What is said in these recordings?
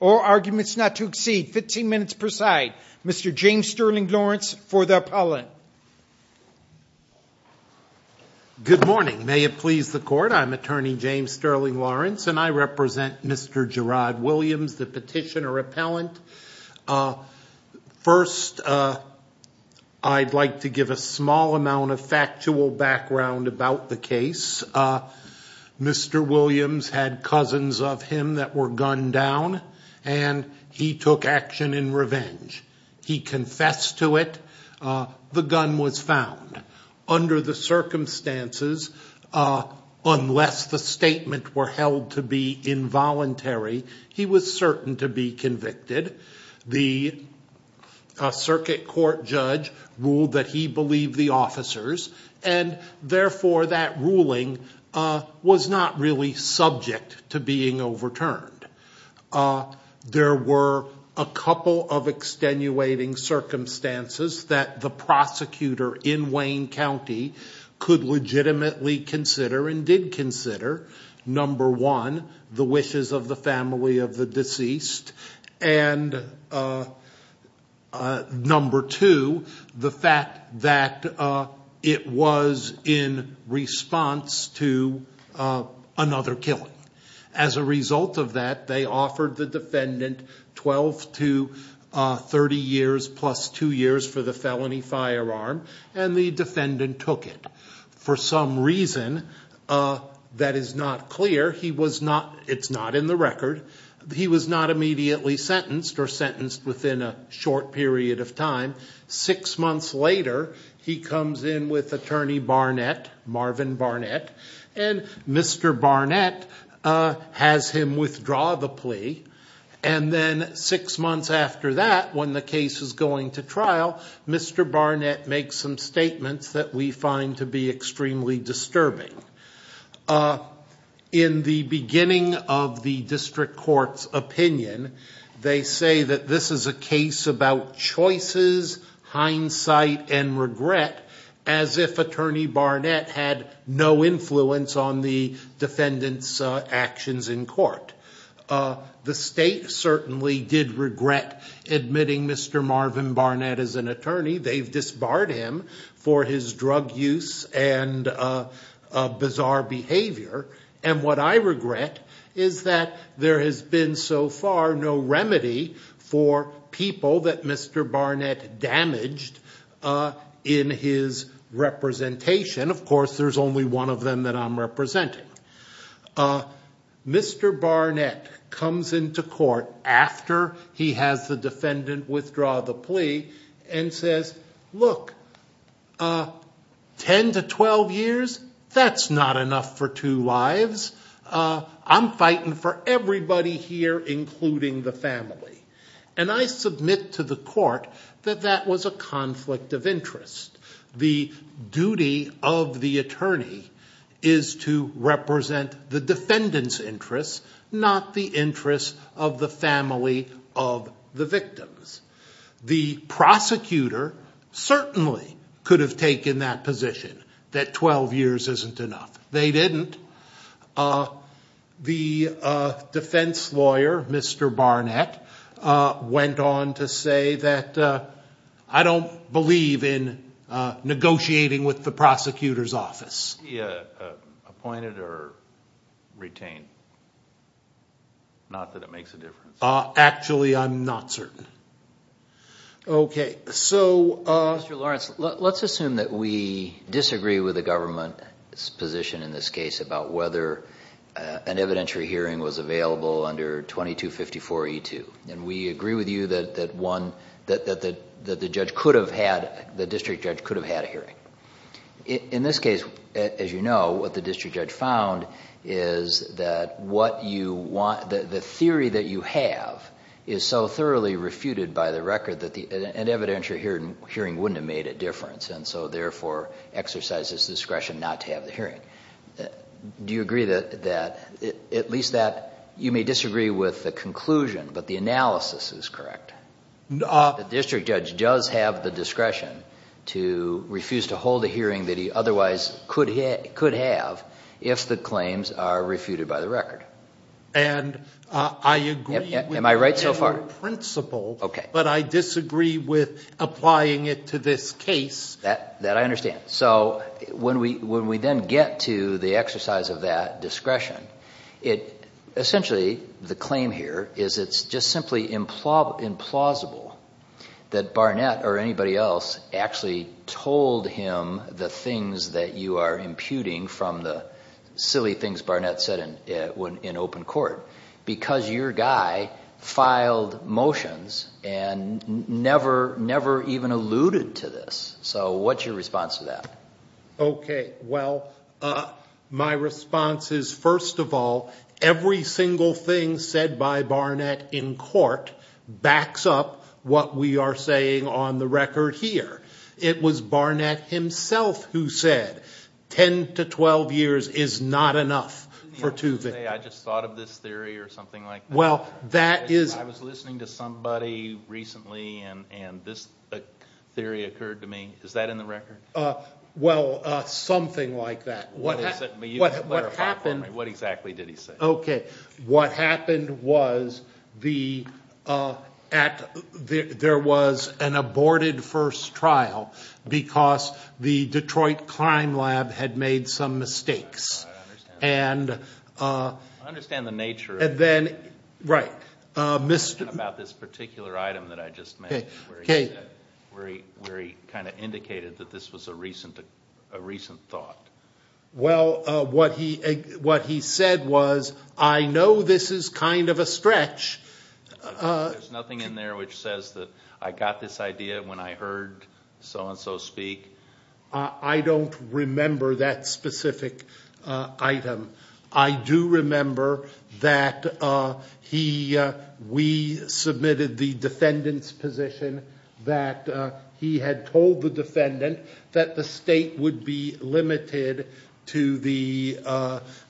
All arguments not to exceed 15 minutes preside, Mr. James Sterling Lawrence for the appellate. Good morning. May it please the court, I'm attorney James Sterling Lawrence and I represent Mr. Jarrhod Williams, the petitioner appellant. First, I'd like to give a small amount of factual background about the case. Mr. Williams had cousins of him that were gunned down and he took action in revenge. He confessed to it. The gun was found. Under the circumstances, unless the statement were held to be involuntary, he was certain to be convicted. The circuit court judge ruled that he believed the officers and therefore that ruling was not really subject to being overturned. There were a couple of extenuating circumstances that the prosecutor in Wayne County could legitimately consider and did consider. Number one, the wishes of the family of the deceased and number two, the fact that it was in response to another killing. As a result of that, they offered the defendant 12 to 30 years plus two years for the felony firearm and the defendant took it. For some reason, that is not clear. It's not in the record. He was not immediately sentenced or sentenced within a short period of time. Six months later, he comes in with attorney Barnett, Marvin Barnett, and Mr. Barnett has him withdraw the plea. Six months after that, when the case is going to trial, Mr. Barnett makes some statements that we find to be extremely disturbing. In the beginning of the district court's opinion, they say that this is a case about choices, hindsight, and regret as if attorney Barnett had no influence on the defendant's actions in court. The state certainly did regret admitting Mr. Marvin Barnett as an attorney. They've disbarred him for his drug use and bizarre behavior. What I regret is that there has been so far no remedy for people that Mr. Barnett damaged in his representation. Of course, there's only one of them that I'm representing. Mr. Barnett comes into court after he has the defendant withdraw the plea and says, Look, 10 to 12 years, that's not enough for two lives. I'm fighting for everybody here, including the family. And I submit to the court that that was a conflict of interest. The duty of the attorney is to represent the defendant's interests, not the interests of the family of the victims. The prosecutor certainly could have taken that position, that 12 years isn't enough. They didn't. The defense lawyer, Mr. Barnett, went on to say that I don't believe in negotiating with the prosecutor's office. Was he appointed or retained? Not that it makes a difference. Actually, I'm not certain. Okay, so... Mr. Lawrence, let's assume that we disagree with the government's position in this case about whether an evidentiary hearing was available under 2254E2. We agree with you that the district judge could have had a hearing. In this case, as you know, what the district judge found is that the theory that you have is so thoroughly refuted by the record that an evidentiary hearing wouldn't have made a difference, and so, therefore, exercises discretion not to have the hearing. Do you agree that, at least that you may disagree with the conclusion, but the analysis is correct? The district judge does have the discretion to refuse to hold a hearing that he otherwise could have if the claims are refuted by the record. And I agree... Am I right so far?... in principle, but I disagree with applying it to this case. That I understand. So when we then get to the exercise of that discretion, essentially the claim here is it's just simply implausible that Barnett or anybody else actually told him the things that you are imputing from the silly things Barnett said in open court, because your guy filed motions and never even alluded to this. So what's your response to that? Okay. Well, my response is, first of all, every single thing said by Barnett in court backs up what we are saying on the record here. It was Barnett himself who said 10 to 12 years is not enough for two... Didn't he also say, I just thought of this theory or something like that? Well, that is... Is that in the record? Well, something like that. What exactly did he say? Okay. What happened was there was an aborted first trial because the Detroit Climb Lab had made some mistakes. I understand the nature of... And then... right. About this particular item that I just made where he kind of indicated that this was a recent thought. Well, what he said was, I know this is kind of a stretch. There's nothing in there which says that I got this idea when I heard so-and-so speak. I don't remember that specific item. I do remember that he... we submitted the defendant's position that he had told the defendant that the state would be limited to the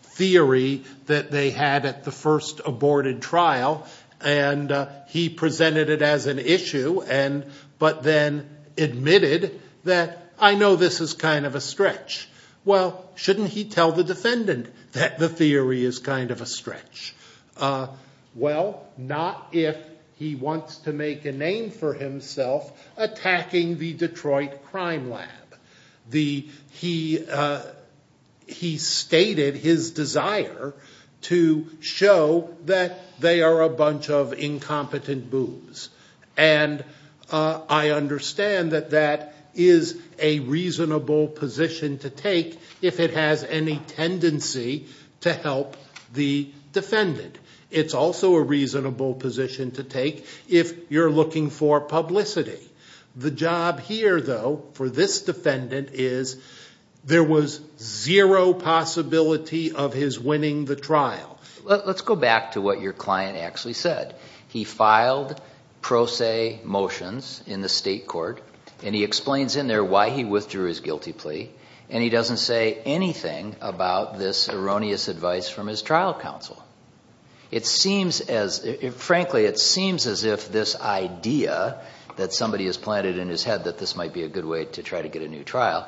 theory that they had at the first aborted trial. And he presented it as an issue and... but then admitted that, I know this is kind of a stretch. Well, shouldn't he tell the defendant that the theory is kind of a stretch? Well, not if he wants to make a name for himself attacking the Detroit Climb Lab. He stated his desire to show that they are a bunch of incompetent boobs. And I understand that that is a reasonable position to take if it has any tendency to help the defendant. It's also a reasonable position to take if you're looking for publicity. The job here, though, for this defendant is there was zero possibility of his winning the trial. Let's go back to what your client actually said. He filed pro se motions in the state court. And he explains in there why he withdrew his guilty plea. And he doesn't say anything about this erroneous advice from his trial counsel. It seems as... frankly, it seems as if this idea that somebody has planted in his head that this might be a good way to try to get a new trial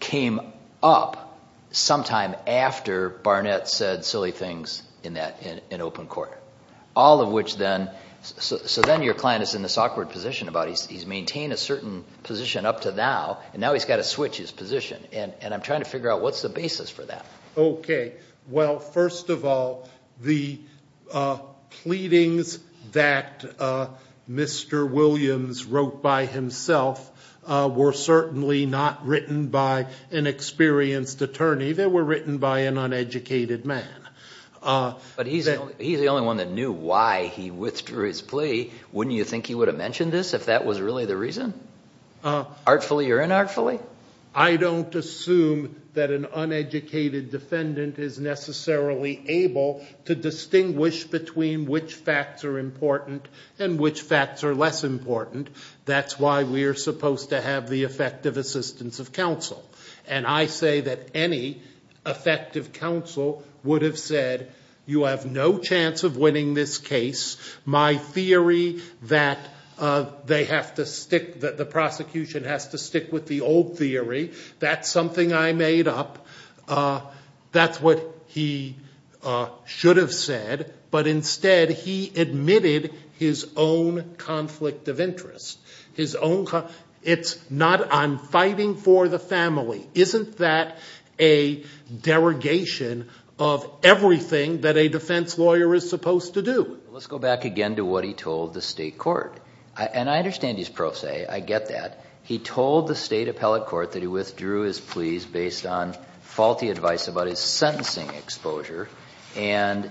came up sometime after Barnett said silly things in open court. All of which then... so then your client is in this awkward position about he's maintained a certain position up to now, and now he's got to switch his position. And I'm trying to figure out what's the basis for that. Okay. Well, first of all, the pleadings that Mr. Williams wrote by himself were certainly not written by an experienced attorney. They were written by an uneducated man. But he's the only one that knew why he withdrew his plea. Wouldn't you think he would have mentioned this if that was really the reason? Artfully or inartfully? I don't assume that an uneducated defendant is necessarily able to distinguish between which facts are important and which facts are less important. That's why we're supposed to have the effective assistance of counsel. And I say that any effective counsel would have said, you have no chance of winning this case. My theory that they have to stick... that the prosecution has to stick with the old theory, that's something I made up. That's what he should have said. But instead, he admitted his own conflict of interest. It's not on fighting for the family. Isn't that a derogation of everything that a defense lawyer is supposed to do? Let's go back again to what he told the state court. And I understand he's pro se. I get that. He told the state appellate court that he withdrew his pleas based on faulty advice about his sentencing exposure and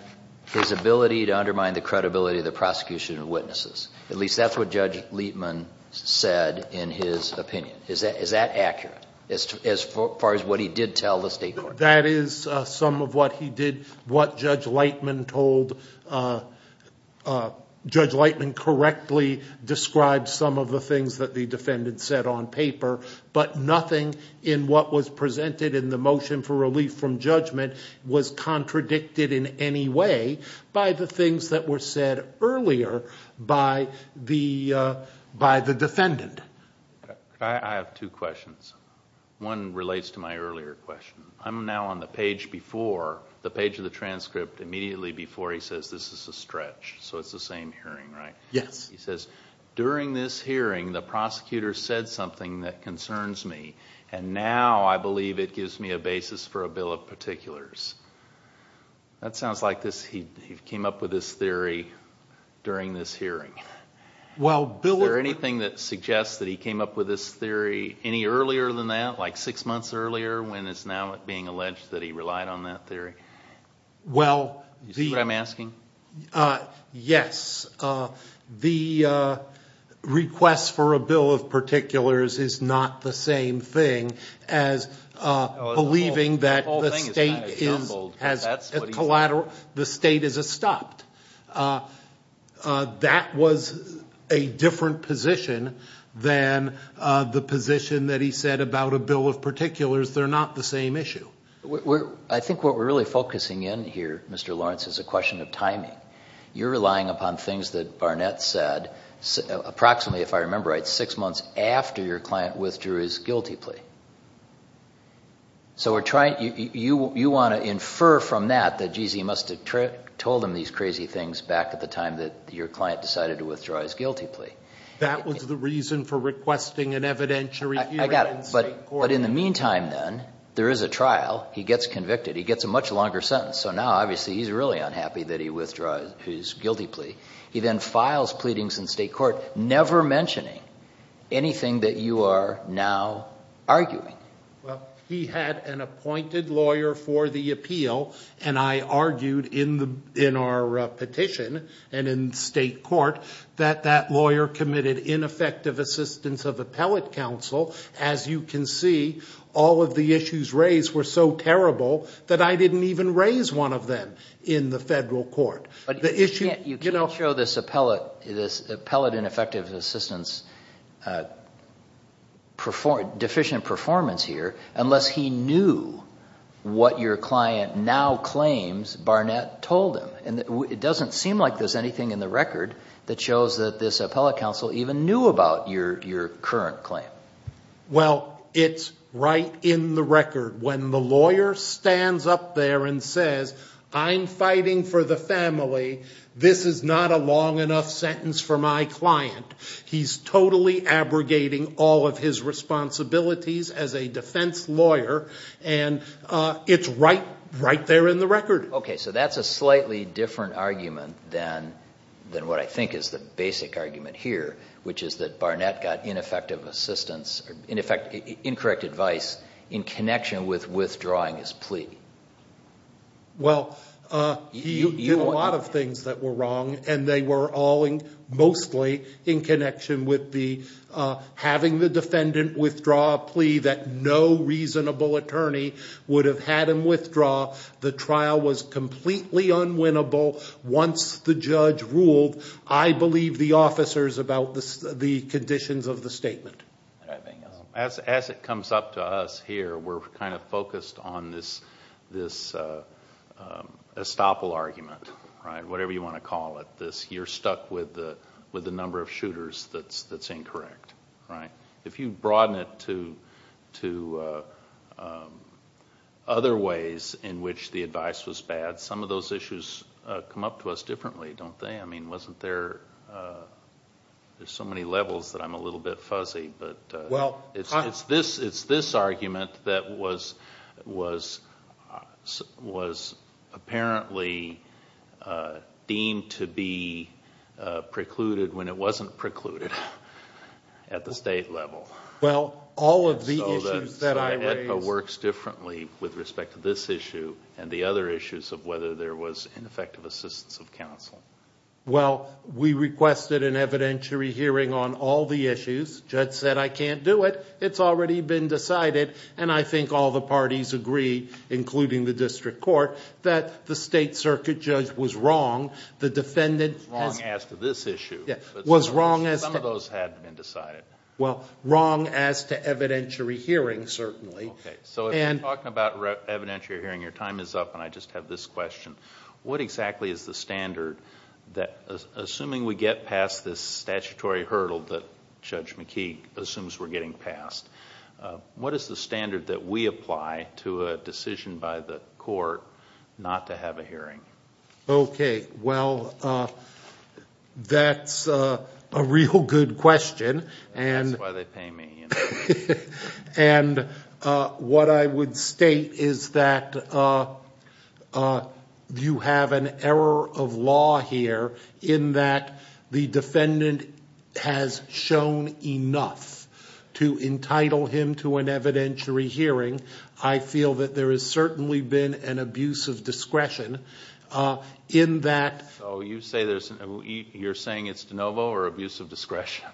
his ability to undermine the credibility of the prosecution of witnesses. At least that's what Judge Leitman said in his opinion. Is that accurate as far as what he did tell the state court? That is some of what he did, what Judge Leitman told. Judge Leitman correctly described some of the things that the defendant said on paper. But nothing in what was presented in the motion for relief from judgment was contradicted in any way by the things that were said earlier by the defendant. I have two questions. One relates to my earlier question. I'm now on the page before, the page of the transcript immediately before he says this is a stretch. So it's the same hearing, right? Yes. He says, during this hearing, the prosecutor said something that concerns me. And now I believe it gives me a basis for a bill of particulars. That sounds like he came up with this theory during this hearing. Is there anything that suggests that he came up with this theory any earlier than that, like six months earlier when it's now being alleged that he relied on that theory? Do you see what I'm asking? Yes. The request for a bill of particulars is not the same thing as believing that the state is a stopped. That was a different position than the position that he said about a bill of particulars. They're not the same issue. I think what we're really focusing in here, Mr. Lawrence, is a question of timing. You're relying upon things that Barnett said approximately, if I remember right, six months after your client withdrew his guilty plea. So you want to infer from that that, geez, he must have told him these crazy things back at the time that your client decided to withdraw his guilty plea. That was the reason for requesting an evidentiary hearing in state court. But in the meantime, then, there is a trial. He gets convicted. He gets a much longer sentence. So now, obviously, he's really unhappy that he withdrew his guilty plea. He then files pleadings in state court, never mentioning anything that you are now arguing. Well, he had an appointed lawyer for the appeal, and I argued in our petition and in state court that that lawyer committed ineffective assistance of appellate counsel. As you can see, all of the issues raised were so terrible that I didn't even raise one of them in the federal court. But you can't show this appellate ineffective assistance deficient performance here unless he knew what your client now claims Barnett told him. It doesn't seem like there's anything in the record that shows that this appellate counsel even knew about your current claim. Well, it's right in the record. When the lawyer stands up there and says, I'm fighting for the family, this is not a long enough sentence for my client. He's totally abrogating all of his responsibilities as a defense lawyer, and it's right there in the record. Okay, so that's a slightly different argument than what I think is the basic argument here, which is that Barnett got ineffective assistance – in effect, incorrect advice in connection with withdrawing his plea. Well, he did a lot of things that were wrong, and they were all mostly in connection with having the defendant withdraw a plea that no reasonable attorney would have had him withdraw. The trial was completely unwinnable. Once the judge ruled, I believe the officers about the conditions of the statement. As it comes up to us here, we're kind of focused on this estoppel argument, whatever you want to call it. You're stuck with the number of shooters that's incorrect. If you broaden it to other ways in which the advice was bad, some of those issues come up to us differently, don't they? There's so many levels that I'm a little bit fuzzy. It's this argument that was apparently deemed to be precluded when it wasn't precluded at the state level. Edna works differently with respect to this issue and the other issues of whether there was ineffective assistance of counsel. Well, we requested an evidentiary hearing on all the issues. The judge said, I can't do it. It's already been decided, and I think all the parties agree, including the district court, that the state circuit judge was wrong. The defendant was wrong as to this issue. Some of those had been decided. Well, wrong as to evidentiary hearing, certainly. Okay, so if you're talking about evidentiary hearing, your time is up, and I just have this question. What exactly is the standard that, assuming we get past this statutory hurdle that Judge McKee assumes we're getting past, what is the standard that we apply to a decision by the court not to have a hearing? Okay, well, that's a real good question. That's why they pay me. And what I would state is that you have an error of law here in that the defendant has shown enough to entitle him to an evidentiary hearing. I feel that there has certainly been an abuse of discretion in that. So you're saying it's de novo or abuse of discretion?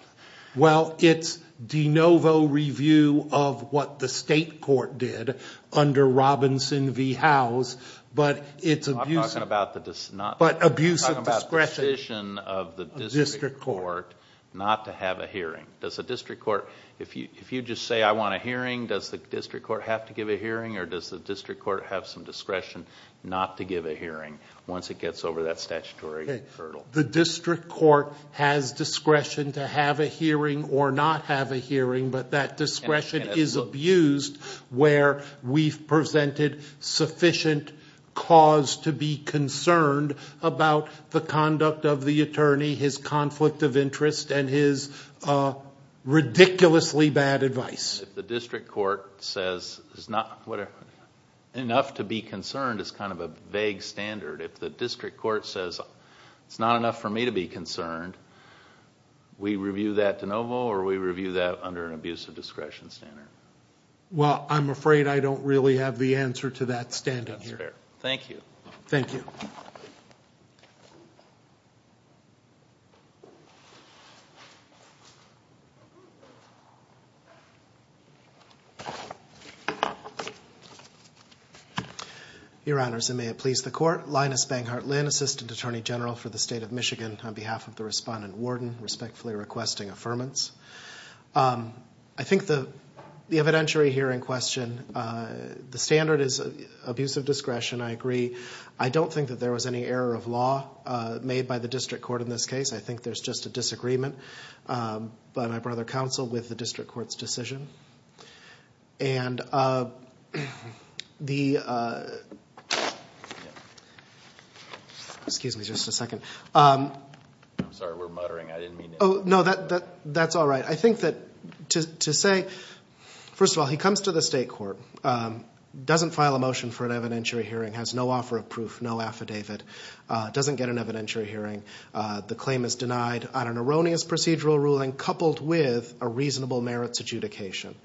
Well, it's de novo review of what the state court did under Robinson v. Howes, but it's abuse of discretion. I'm talking about the decision of the district court not to have a hearing. If you just say, I want a hearing, does the district court have to give a hearing, or does the district court have some discretion not to give a hearing once it gets over that statutory hurdle? The district court has discretion to have a hearing or not have a hearing, but that discretion is abused where we've presented sufficient cause to be concerned about the conduct of the attorney, his conflict of interest, and his ridiculously bad advice. If the district court says enough to be concerned is kind of a vague standard, if the district court says it's not enough for me to be concerned, we review that de novo or we review that under an abuse of discretion standard? Well, I'm afraid I don't really have the answer to that standing here. That's fair. Thank you. Thank you. Your Honors, and may it please the Court. Linus Banghart Lynn, Assistant Attorney General for the State of Michigan, on behalf of the Respondent Warden, respectfully requesting affirmance. I think the evidentiary hearing question, the standard is abuse of discretion. I agree. I don't think that there was any error of law made by the district court in this case. I think there's just a disagreement, but I'd rather counsel with the district court's decision. And the – excuse me just a second. I'm sorry, we're muttering. I didn't mean to interrupt. No, that's all right. I think that to say, first of all, he comes to the state court, doesn't file a motion for an evidentiary hearing, has no offer of proof, no affidavit, doesn't get an evidentiary hearing. The claim is denied on an erroneous procedural ruling coupled with a reasonable merits adjudication.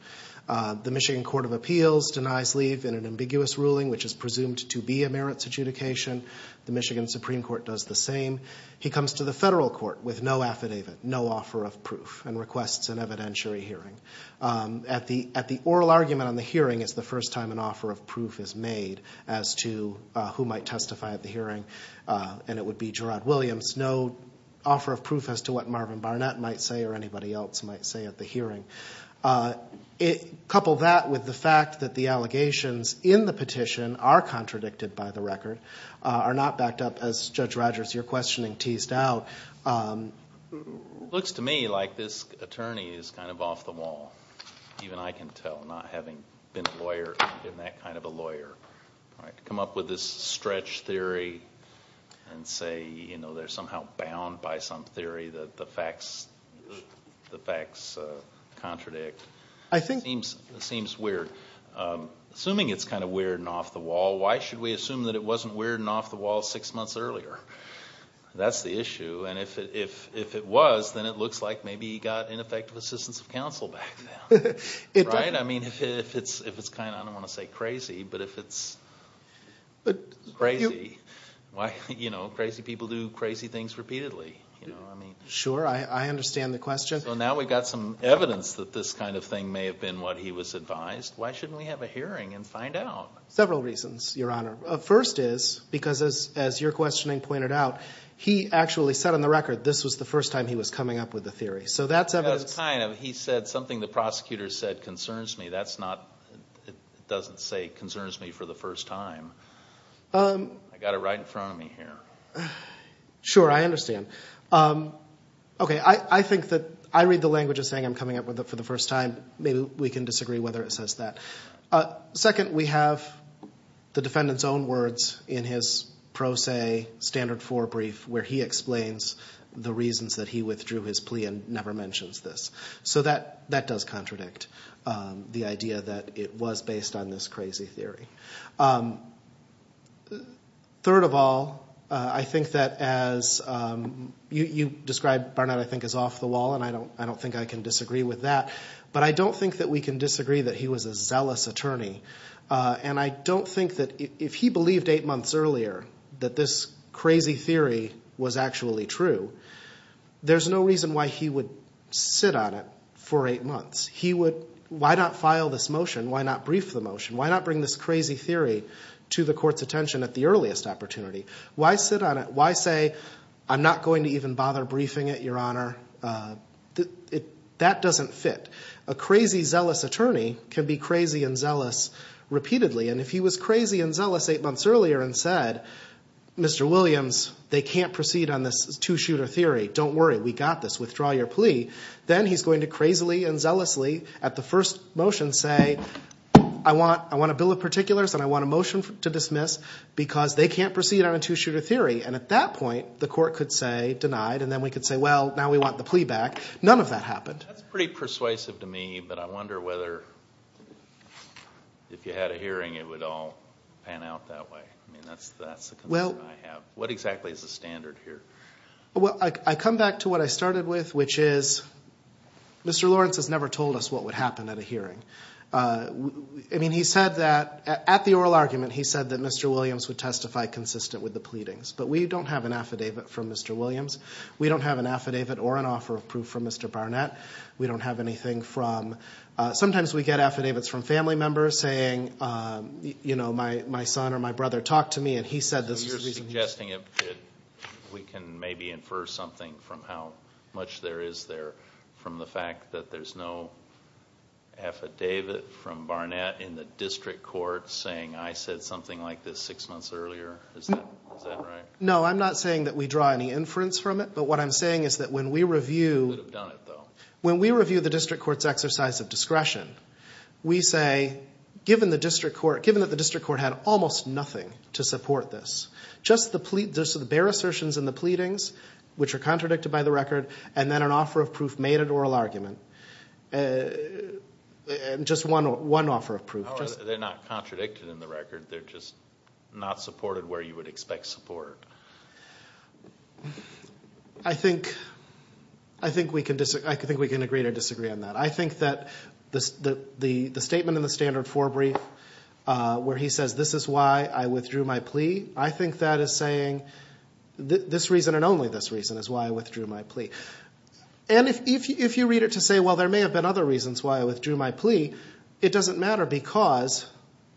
The Michigan Court of Appeals denies leave in an ambiguous ruling, which is presumed to be a merits adjudication. The Michigan Supreme Court does the same. He comes to the federal court with no affidavit, no offer of proof, and requests an evidentiary hearing. At the oral argument on the hearing is the first time an offer of proof is made as to who might testify at the hearing, and it would be Gerard Williams. No offer of proof as to what Marvin Barnett might say or anybody else might say at the hearing. Couple that with the fact that the allegations in the petition are contradicted by the record, are not backed up as Judge Rogers, your questioning, teased out. It looks to me like this attorney is kind of off the wall, even I can tell, not having been a lawyer, been that kind of a lawyer. Come up with this stretch theory and say, you know, they're somehow bound by some theory that the facts contradict. It seems weird. Assuming it's kind of weird and off the wall, why should we assume that it wasn't weird and off the wall six months earlier? That's the issue. And if it was, then it looks like maybe he got ineffective assistance of counsel back then. I mean, if it's kind of, I don't want to say crazy, but if it's crazy, you know, crazy people do crazy things repeatedly. Sure, I understand the question. So now we've got some evidence that this kind of thing may have been what he was advised. Why shouldn't we have a hearing and find out? Several reasons, Your Honor. First is because, as your questioning pointed out, he actually said on the record this was the first time he was coming up with a theory. So that's evidence. That's kind of, he said something the prosecutor said concerns me. That's not, it doesn't say concerns me for the first time. I've got it right in front of me here. Sure, I understand. Okay, I think that I read the language as saying I'm coming up with it for the first time. Maybe we can disagree whether it says that. Second, we have the defendant's own words in his pro se standard four brief where he explains the reasons that he withdrew his plea and never mentions this. So that does contradict the idea that it was based on this crazy theory. Third of all, I think that as you described Barnett I think is off the wall, and I don't think I can disagree with that. But I don't think that we can disagree that he was a zealous attorney. And I don't think that if he believed eight months earlier that this crazy theory was actually true, there's no reason why he would sit on it for eight months. He would, why not file this motion? Why not brief the motion? Why not bring this crazy theory to the court's attention at the earliest opportunity? Why sit on it? Why say I'm not going to even bother briefing it, Your Honor? That doesn't fit. A crazy, zealous attorney can be crazy and zealous repeatedly. And if he was crazy and zealous eight months earlier and said, Mr. Williams, they can't proceed on this two-shooter theory. Don't worry. We got this. Withdraw your plea. Then he's going to crazily and zealously at the first motion say I want a bill of particulars and I want a motion to dismiss because they can't proceed on a two-shooter theory. And at that point the court could say denied, and then we could say, well, now we want the plea back. None of that happened. That's pretty persuasive to me, but I wonder whether if you had a hearing it would all pan out that way. I mean that's the concern I have. What exactly is the standard here? Well, I come back to what I started with, which is Mr. Lawrence has never told us what would happen at a hearing. I mean he said that at the oral argument, he said that Mr. Williams would testify consistent with the pleadings. But we don't have an affidavit from Mr. Williams. We don't have an affidavit or an offer of proof from Mr. Barnett. We don't have anything from – sometimes we get affidavits from family members saying, you know, my son or my brother talked to me and he said this was the reason he – Maybe we can maybe infer something from how much there is there from the fact that there's no affidavit from Barnett in the district court saying I said something like this six months earlier. Is that right? No, I'm not saying that we draw any inference from it, but what I'm saying is that when we review – You could have done it, though. When we review the district court's exercise of discretion, we say given the district court – given that the district court had almost nothing to support this, just the bare assertions in the pleadings, which are contradicted by the record, and then an offer of proof made at oral argument. Just one offer of proof. They're not contradicted in the record. They're just not supported where you would expect support. I think we can agree to disagree on that. I think that the statement in the standard forebrief where he says this is why I withdrew my plea, I think that is saying this reason and only this reason is why I withdrew my plea. And if you read it to say, well, there may have been other reasons why I withdrew my plea, it doesn't matter because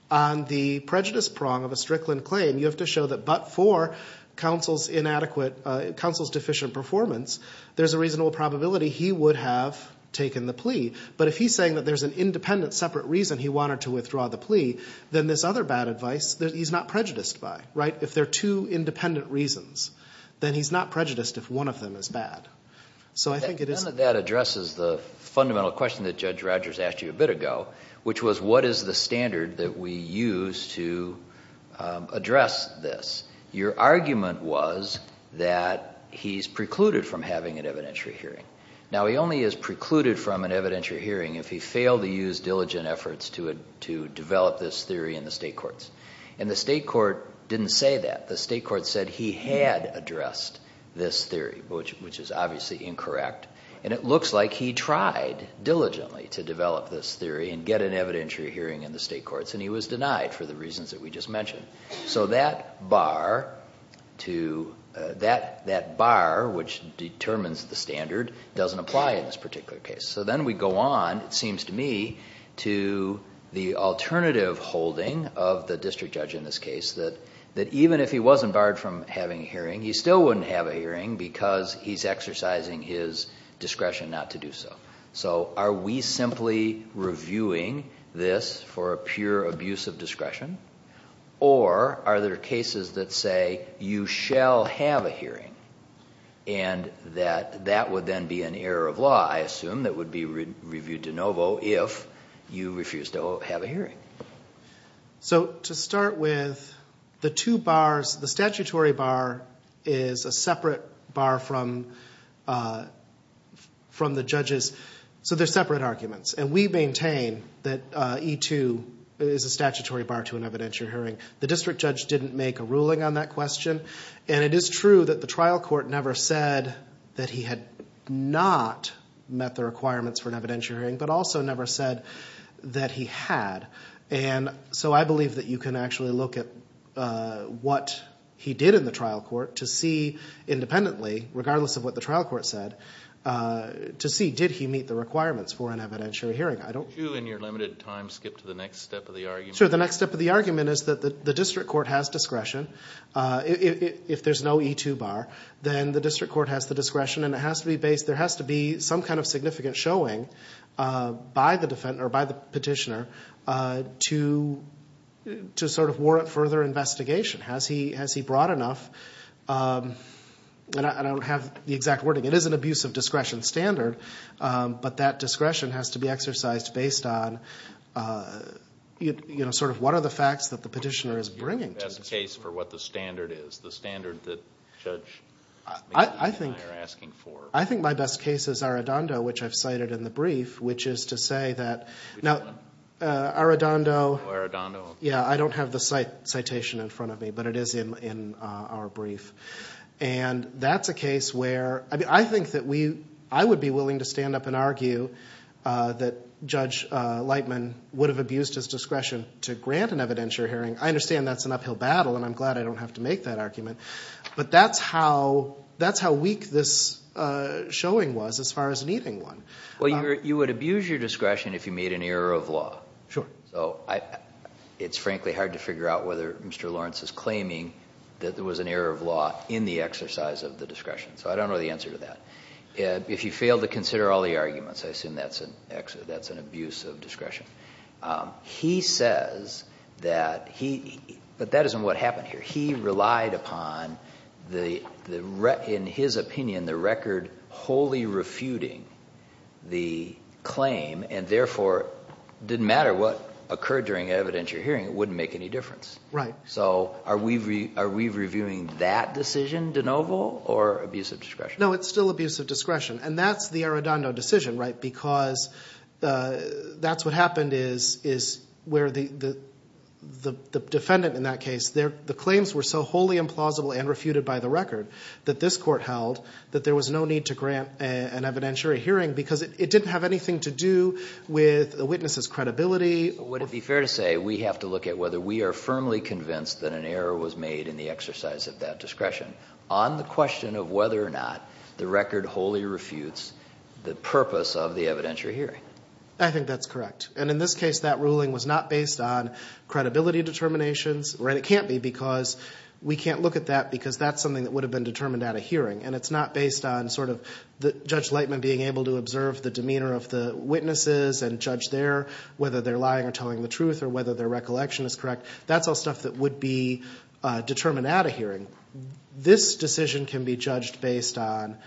on the prejudice prong of a Strickland claim, you have to show that but for counsel's inadequate – counsel's deficient performance, there's a reasonable probability he would have taken the plea. But if he's saying that there's an independent, separate reason he wanted to withdraw the plea, then there's other bad advice that he's not prejudiced by. If there are two independent reasons, then he's not prejudiced if one of them is bad. None of that addresses the fundamental question that Judge Rogers asked you a bit ago, which was what is the standard that we use to address this. Your argument was that he's precluded from having an evidentiary hearing. Now, he only is precluded from an evidentiary hearing if he failed to use diligent efforts to develop this theory in the state courts. And the state court didn't say that. The state court said he had addressed this theory, which is obviously incorrect. And it looks like he tried diligently to develop this theory and get an evidentiary hearing in the state courts, and he was denied for the reasons that we just mentioned. So that bar which determines the standard doesn't apply in this particular case. So then we go on, it seems to me, to the alternative holding of the district judge in this case that even if he wasn't barred from having a hearing, he still wouldn't have a hearing because he's exercising his discretion not to do so. So are we simply reviewing this for a pure abuse of discretion or are there cases that say you shall have a hearing and that that would then be an error of law, I assume, that would be reviewed de novo if you refuse to have a hearing? So to start with, the two bars, the statutory bar is a separate bar from the judge's. So they're separate arguments. And we maintain that E-2 is a statutory bar to an evidentiary hearing. The district judge didn't make a ruling on that question. And it is true that the trial court never said that he had not met the requirements for an evidentiary hearing, but also never said that he had. And so I believe that you can actually look at what he did in the trial court to see independently, regardless of what the trial court said, to see did he meet the requirements for an evidentiary hearing. Could you in your limited time skip to the next step of the argument? Sure. The next step of the argument is that the district court has discretion. If there's no E-2 bar, then the district court has the discretion. And there has to be some kind of significant showing by the petitioner to sort of warrant further investigation. Has he brought enough? And I don't have the exact wording. It is an abuse of discretion standard, but that discretion has to be exercised based on, you know, sort of what are the facts that the petitioner is bringing to the court. What is your best case for what the standard is, the standard that Judge McGee and I are asking for? I think my best case is Arradondo, which I've cited in the brief, which is to say that now Arradondo. Oh, Arradondo. Yeah, I don't have the citation in front of me, but it is in our brief. And that's a case where I think that I would be willing to stand up and argue that Judge Lightman would have abused his discretion to grant an evidentiary hearing. I understand that's an uphill battle, and I'm glad I don't have to make that argument. But that's how weak this showing was as far as needing one. Well, you would abuse your discretion if you made an error of law. Sure. So it's frankly hard to figure out whether Mr. Lawrence is claiming that there was an error of law in the exercise of the discretion. So I don't know the answer to that. If you fail to consider all the arguments, I assume that's an abuse of discretion. He says that he – but that isn't what happened here. He relied upon, in his opinion, the record wholly refuting the claim, and therefore it didn't matter what occurred during evidentiary hearing. It wouldn't make any difference. Right. So are we reviewing that decision, de novo, or abuse of discretion? No, it's still abuse of discretion, and that's the Arradondo decision, right, because that's what happened is where the defendant in that case, the claims were so wholly implausible and refuted by the record that this court held that there was no need to grant an evidentiary hearing because it didn't have anything to do with the witness's credibility. Would it be fair to say we have to look at whether we are firmly convinced that an error was made in the exercise of that discretion on the question of whether or not the record wholly refutes the purpose of the evidentiary hearing? I think that's correct. And in this case, that ruling was not based on credibility determinations, and it can't be because we can't look at that because that's something that would have been determined at a hearing, and it's not based on Judge Lightman being able to observe the demeanor of the witnesses and judge there whether they're lying or telling the truth or whether their recollection is correct. That's all stuff that would be determined at a hearing. This decision can be judged based on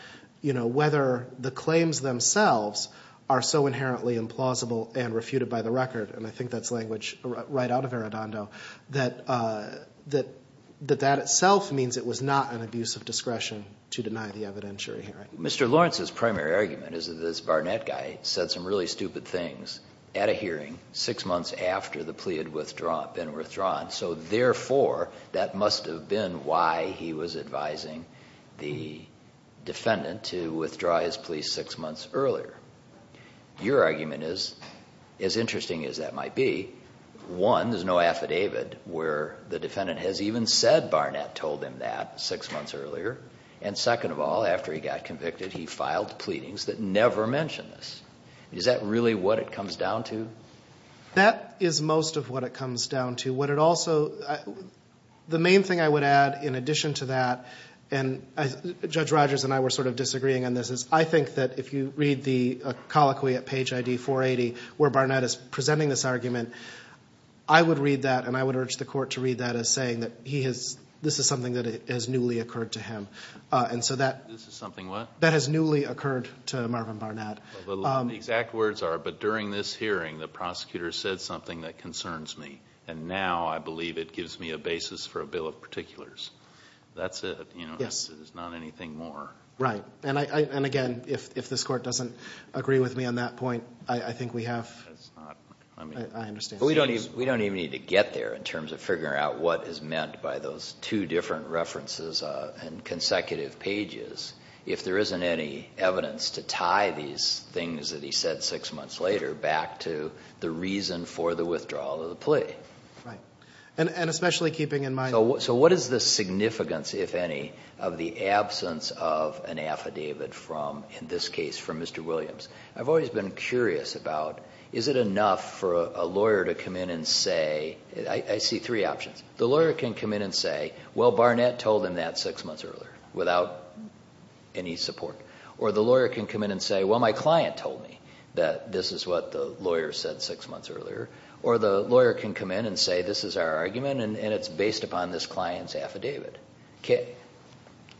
whether the claims themselves are so inherently implausible and refuted by the record, and I think that's language right out of Arradondo, that that itself means it was not an abuse of discretion to deny the evidentiary hearing. Mr. Lawrence's primary argument is that this Barnett guy said some really stupid things at a hearing six months after the plea had been withdrawn, so therefore that must have been why he was advising the defendant to withdraw his plea six months earlier. Your argument is, as interesting as that might be, one, there's no affidavit where the defendant has even said Barnett told him that six months earlier, and second of all, after he got convicted, he filed pleadings that never mention this. Is that really what it comes down to? That is most of what it comes down to. The main thing I would add in addition to that, and Judge Rogers and I were sort of disagreeing on this, is I think that if you read the colloquy at page ID 480 where Barnett is presenting this argument, I would read that and I would urge the court to read that as saying that this is something that has newly occurred to him. This is something what? That has newly occurred to Marvin Barnett. The exact words are, but during this hearing the prosecutor said something that concerns me, and now I believe it gives me a basis for a bill of particulars. That's it. Yes. There's not anything more. Right. And again, if this Court doesn't agree with me on that point, I think we have, I understand. We don't even need to get there in terms of figuring out what is meant by those two different references and consecutive pages. If there isn't any evidence to tie these things that he said six months later back to the reason for the withdrawal of the plea. Right. And especially keeping in mind. So what is the significance, if any, of the absence of an affidavit from, in this case, from Mr. Williams? I've always been curious about is it enough for a lawyer to come in and say, I see three options. The lawyer can come in and say, well, Barnett told him that six months earlier, without any support. Or the lawyer can come in and say, well, my client told me that this is what the lawyer said six months earlier. Or the lawyer can come in and say, this is our argument, and it's based upon this client's affidavit.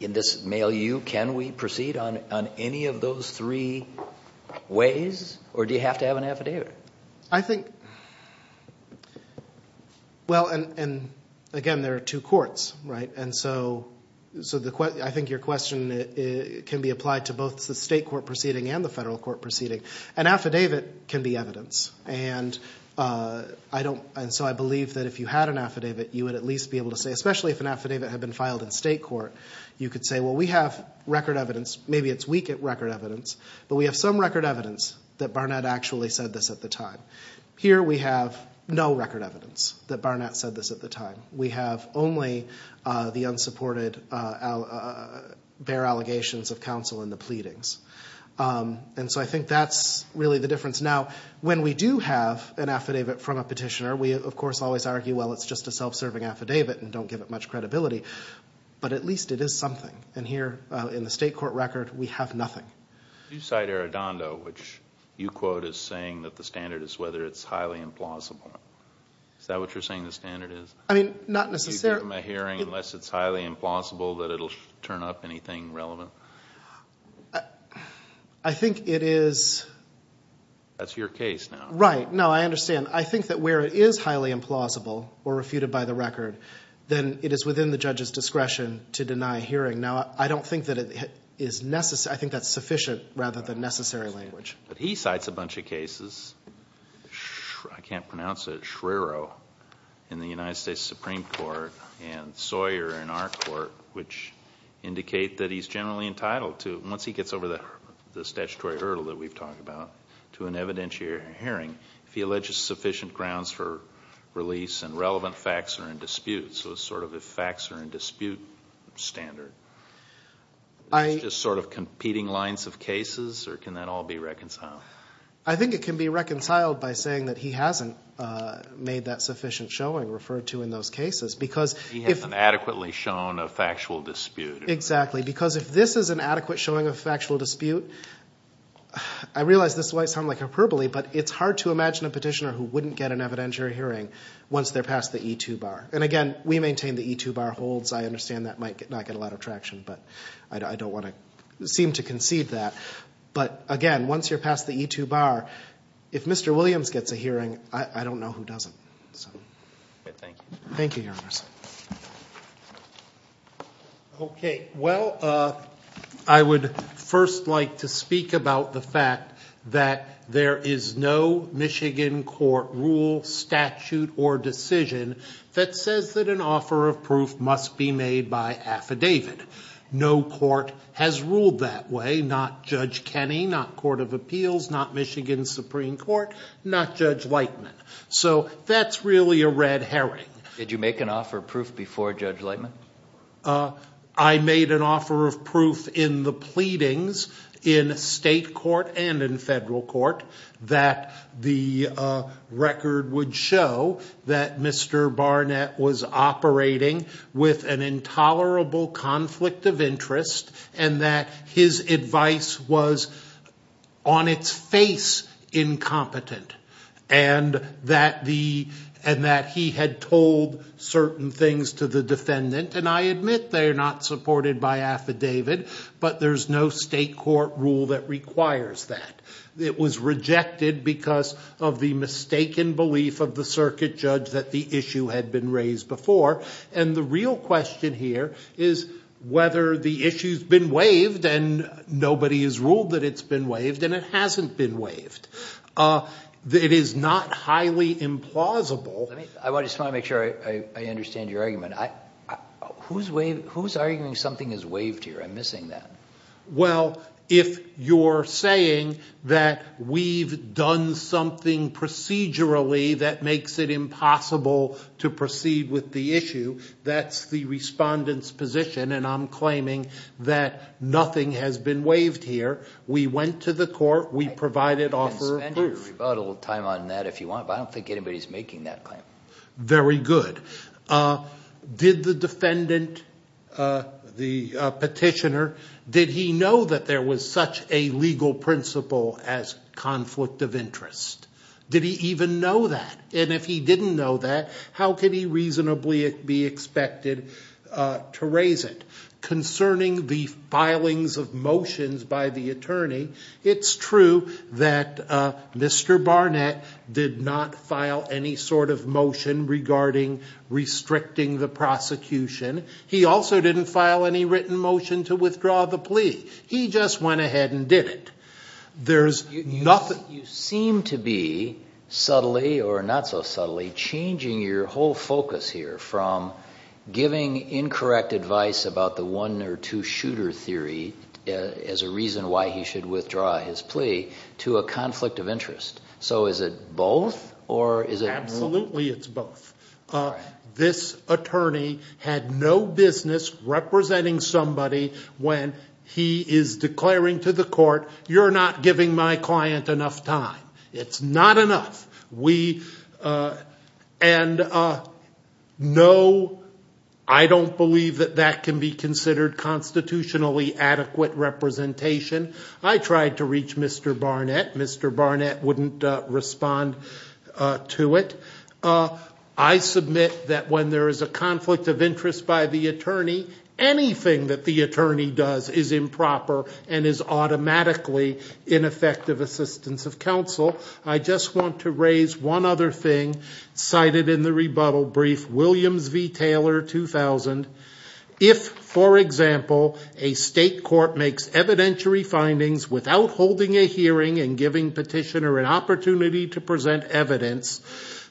In this milieu, can we proceed on any of those three ways, or do you have to have an affidavit? I think, well, and again, there are two courts, right? And so I think your question can be applied to both the state court proceeding and the federal court proceeding. An affidavit can be evidence. And so I believe that if you had an affidavit, you would at least be able to say, especially if an affidavit had been filed in state court, you could say, well, we have record evidence. Maybe it's weak at record evidence, but we have some record evidence that Barnett actually said this at the time. Here we have no record evidence that Barnett said this at the time. We have only the unsupported, bare allegations of counsel and the pleadings. And so I think that's really the difference. Now, when we do have an affidavit from a petitioner, we of course always argue, well, it's just a self-serving affidavit and don't give it much credibility. But at least it is something. And here in the state court record, we have nothing. You cite Arradondo, which you quote as saying that the standard is whether it's highly implausible. Is that what you're saying the standard is? I mean, not necessarily. Do you give him a hearing unless it's highly implausible that it will turn up anything relevant? I think it is. That's your case now. Right. No, I understand. I think that where it is highly implausible or refuted by the record, then it is within the judge's discretion to deny a hearing. Now, I don't think that it is necessary. I think that's sufficient rather than necessary language. But he cites a bunch of cases. I can't pronounce it. Shrero in the United States Supreme Court and Sawyer in our court, which indicate that he's generally entitled to, once he gets over the statutory hurdle that we've talked about, to an evidentiary hearing if he alleges sufficient grounds for release and relevant facts are in dispute. So it's sort of a facts are in dispute standard. It's just sort of competing lines of cases, or can that all be reconciled? I think it can be reconciled by saying that he hasn't made that sufficient showing referred to in those cases. He hasn't adequately shown a factual dispute. Exactly, because if this is an adequate showing of factual dispute, I realize this might sound like hyperbole, but it's hard to imagine a petitioner who wouldn't get an evidentiary hearing once they're past the E-2 bar. And, again, we maintain the E-2 bar holds. I understand that might not get a lot of traction, but I don't want to seem to concede that. But, again, once you're past the E-2 bar, if Mr. Williams gets a hearing, I don't know who doesn't. Thank you. Thank you, Your Honor. Okay. Well, I would first like to speak about the fact that there is no Michigan court rule, statute, or decision that says that an offer of proof must be made by affidavit. No court has ruled that way, not Judge Kenney, not Court of Appeals, not Michigan Supreme Court, not Judge Lightman. So that's really a red herring. Did you make an offer of proof before Judge Lightman? I made an offer of proof in the pleadings in state court and in federal court that the record would show that Mr. Barnett was operating with an intolerable conflict of interest and that his advice was, on its face, incompetent and that he had told certain things to the defendant. And I admit they're not supported by affidavit, but there's no state court rule that requires that. It was rejected because of the mistaken belief of the circuit judge that the issue had been raised before. And the real question here is whether the issue's been waived and nobody has ruled that it's been waived and it hasn't been waived. It is not highly implausible. I just want to make sure I understand your argument. Who's arguing something is waived here? I'm missing that. Well, if you're saying that we've done something procedurally that makes it impossible to proceed with the issue, that's the respondent's position, and I'm claiming that nothing has been waived here. We went to the court. We provided offer of proof. You can spend your rebuttal time on that if you want, but I don't think anybody's making that claim. Very good. Did the defendant, the petitioner, did he know that there was such a legal principle as conflict of interest? Did he even know that? And if he didn't know that, how could he reasonably be expected to raise it? Concerning the filings of motions by the attorney, it's true that Mr. Barnett did not file any sort of motion regarding restricting the prosecution. He also didn't file any written motion to withdraw the plea. He just went ahead and did it. You seem to be, subtly or not so subtly, changing your whole focus here from giving incorrect advice about the one or two-shooter theory as a reason why he should withdraw his plea to a conflict of interest. So is it both? Absolutely it's both. This attorney had no business representing somebody when he is declaring to the court, you're not giving my client enough time. It's not enough. And no, I don't believe that that can be considered constitutionally adequate representation. I tried to reach Mr. Barnett. Mr. Barnett wouldn't respond to it. I submit that when there is a conflict of interest by the attorney, anything that the attorney does is improper and is automatically ineffective assistance of counsel. I just want to raise one other thing cited in the rebuttal brief, Williams v. Taylor, 2000. If, for example, a state court makes evidentiary findings without holding a hearing and giving petitioner an opportunity to present evidence,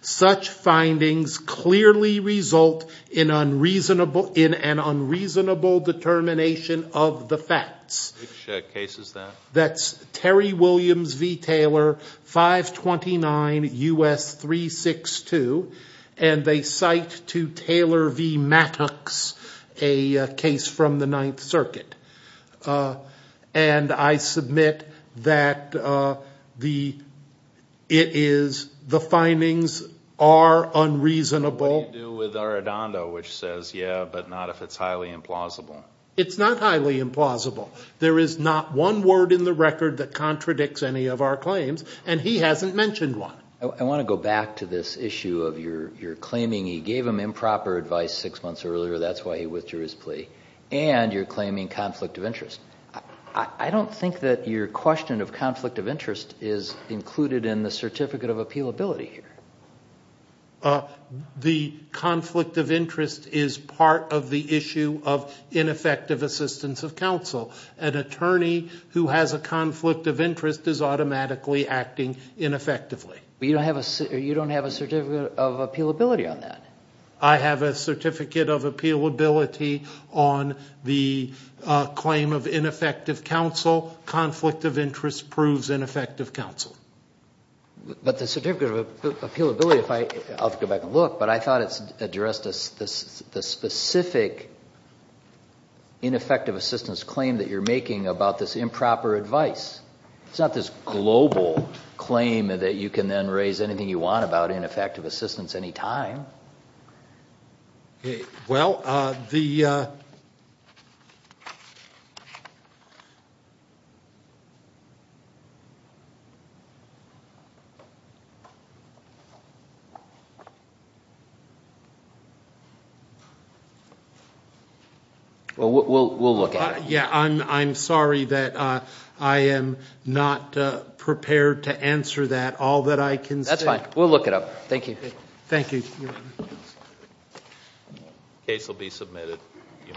such findings clearly result in an unreasonable determination of the facts. Which case is that? That's Terry Williams v. Taylor, 529 U.S. 362. And they cite to Taylor v. Mattox a case from the Ninth Circuit. And I submit that the findings are unreasonable. What do you do with Arradondo which says, yeah, but not if it's highly implausible? It's not highly implausible. There is not one word in the record that contradicts any of our claims, and he hasn't mentioned one. I want to go back to this issue of your claiming he gave him improper advice six months earlier. That's why he withdrew his plea. And you're claiming conflict of interest. I don't think that your question of conflict of interest is included in the certificate of appealability here. The conflict of interest is part of the issue of ineffective assistance of counsel. An attorney who has a conflict of interest is automatically acting ineffectively. But you don't have a certificate of appealability on that. I have a certificate of appealability on the claim of ineffective counsel. Conflict of interest proves ineffective counsel. But the certificate of appealability, I'll have to go back and look, but I thought it addressed the specific ineffective assistance claim that you're making about this improper advice. It's not this global claim that you can then raise anything you want about ineffective assistance any time. Well, we'll look at it. Yeah, I'm sorry that I am not prepared to answer that, all that I can say. That's fine. We'll look it up. Thank you. Thank you, Your Honor.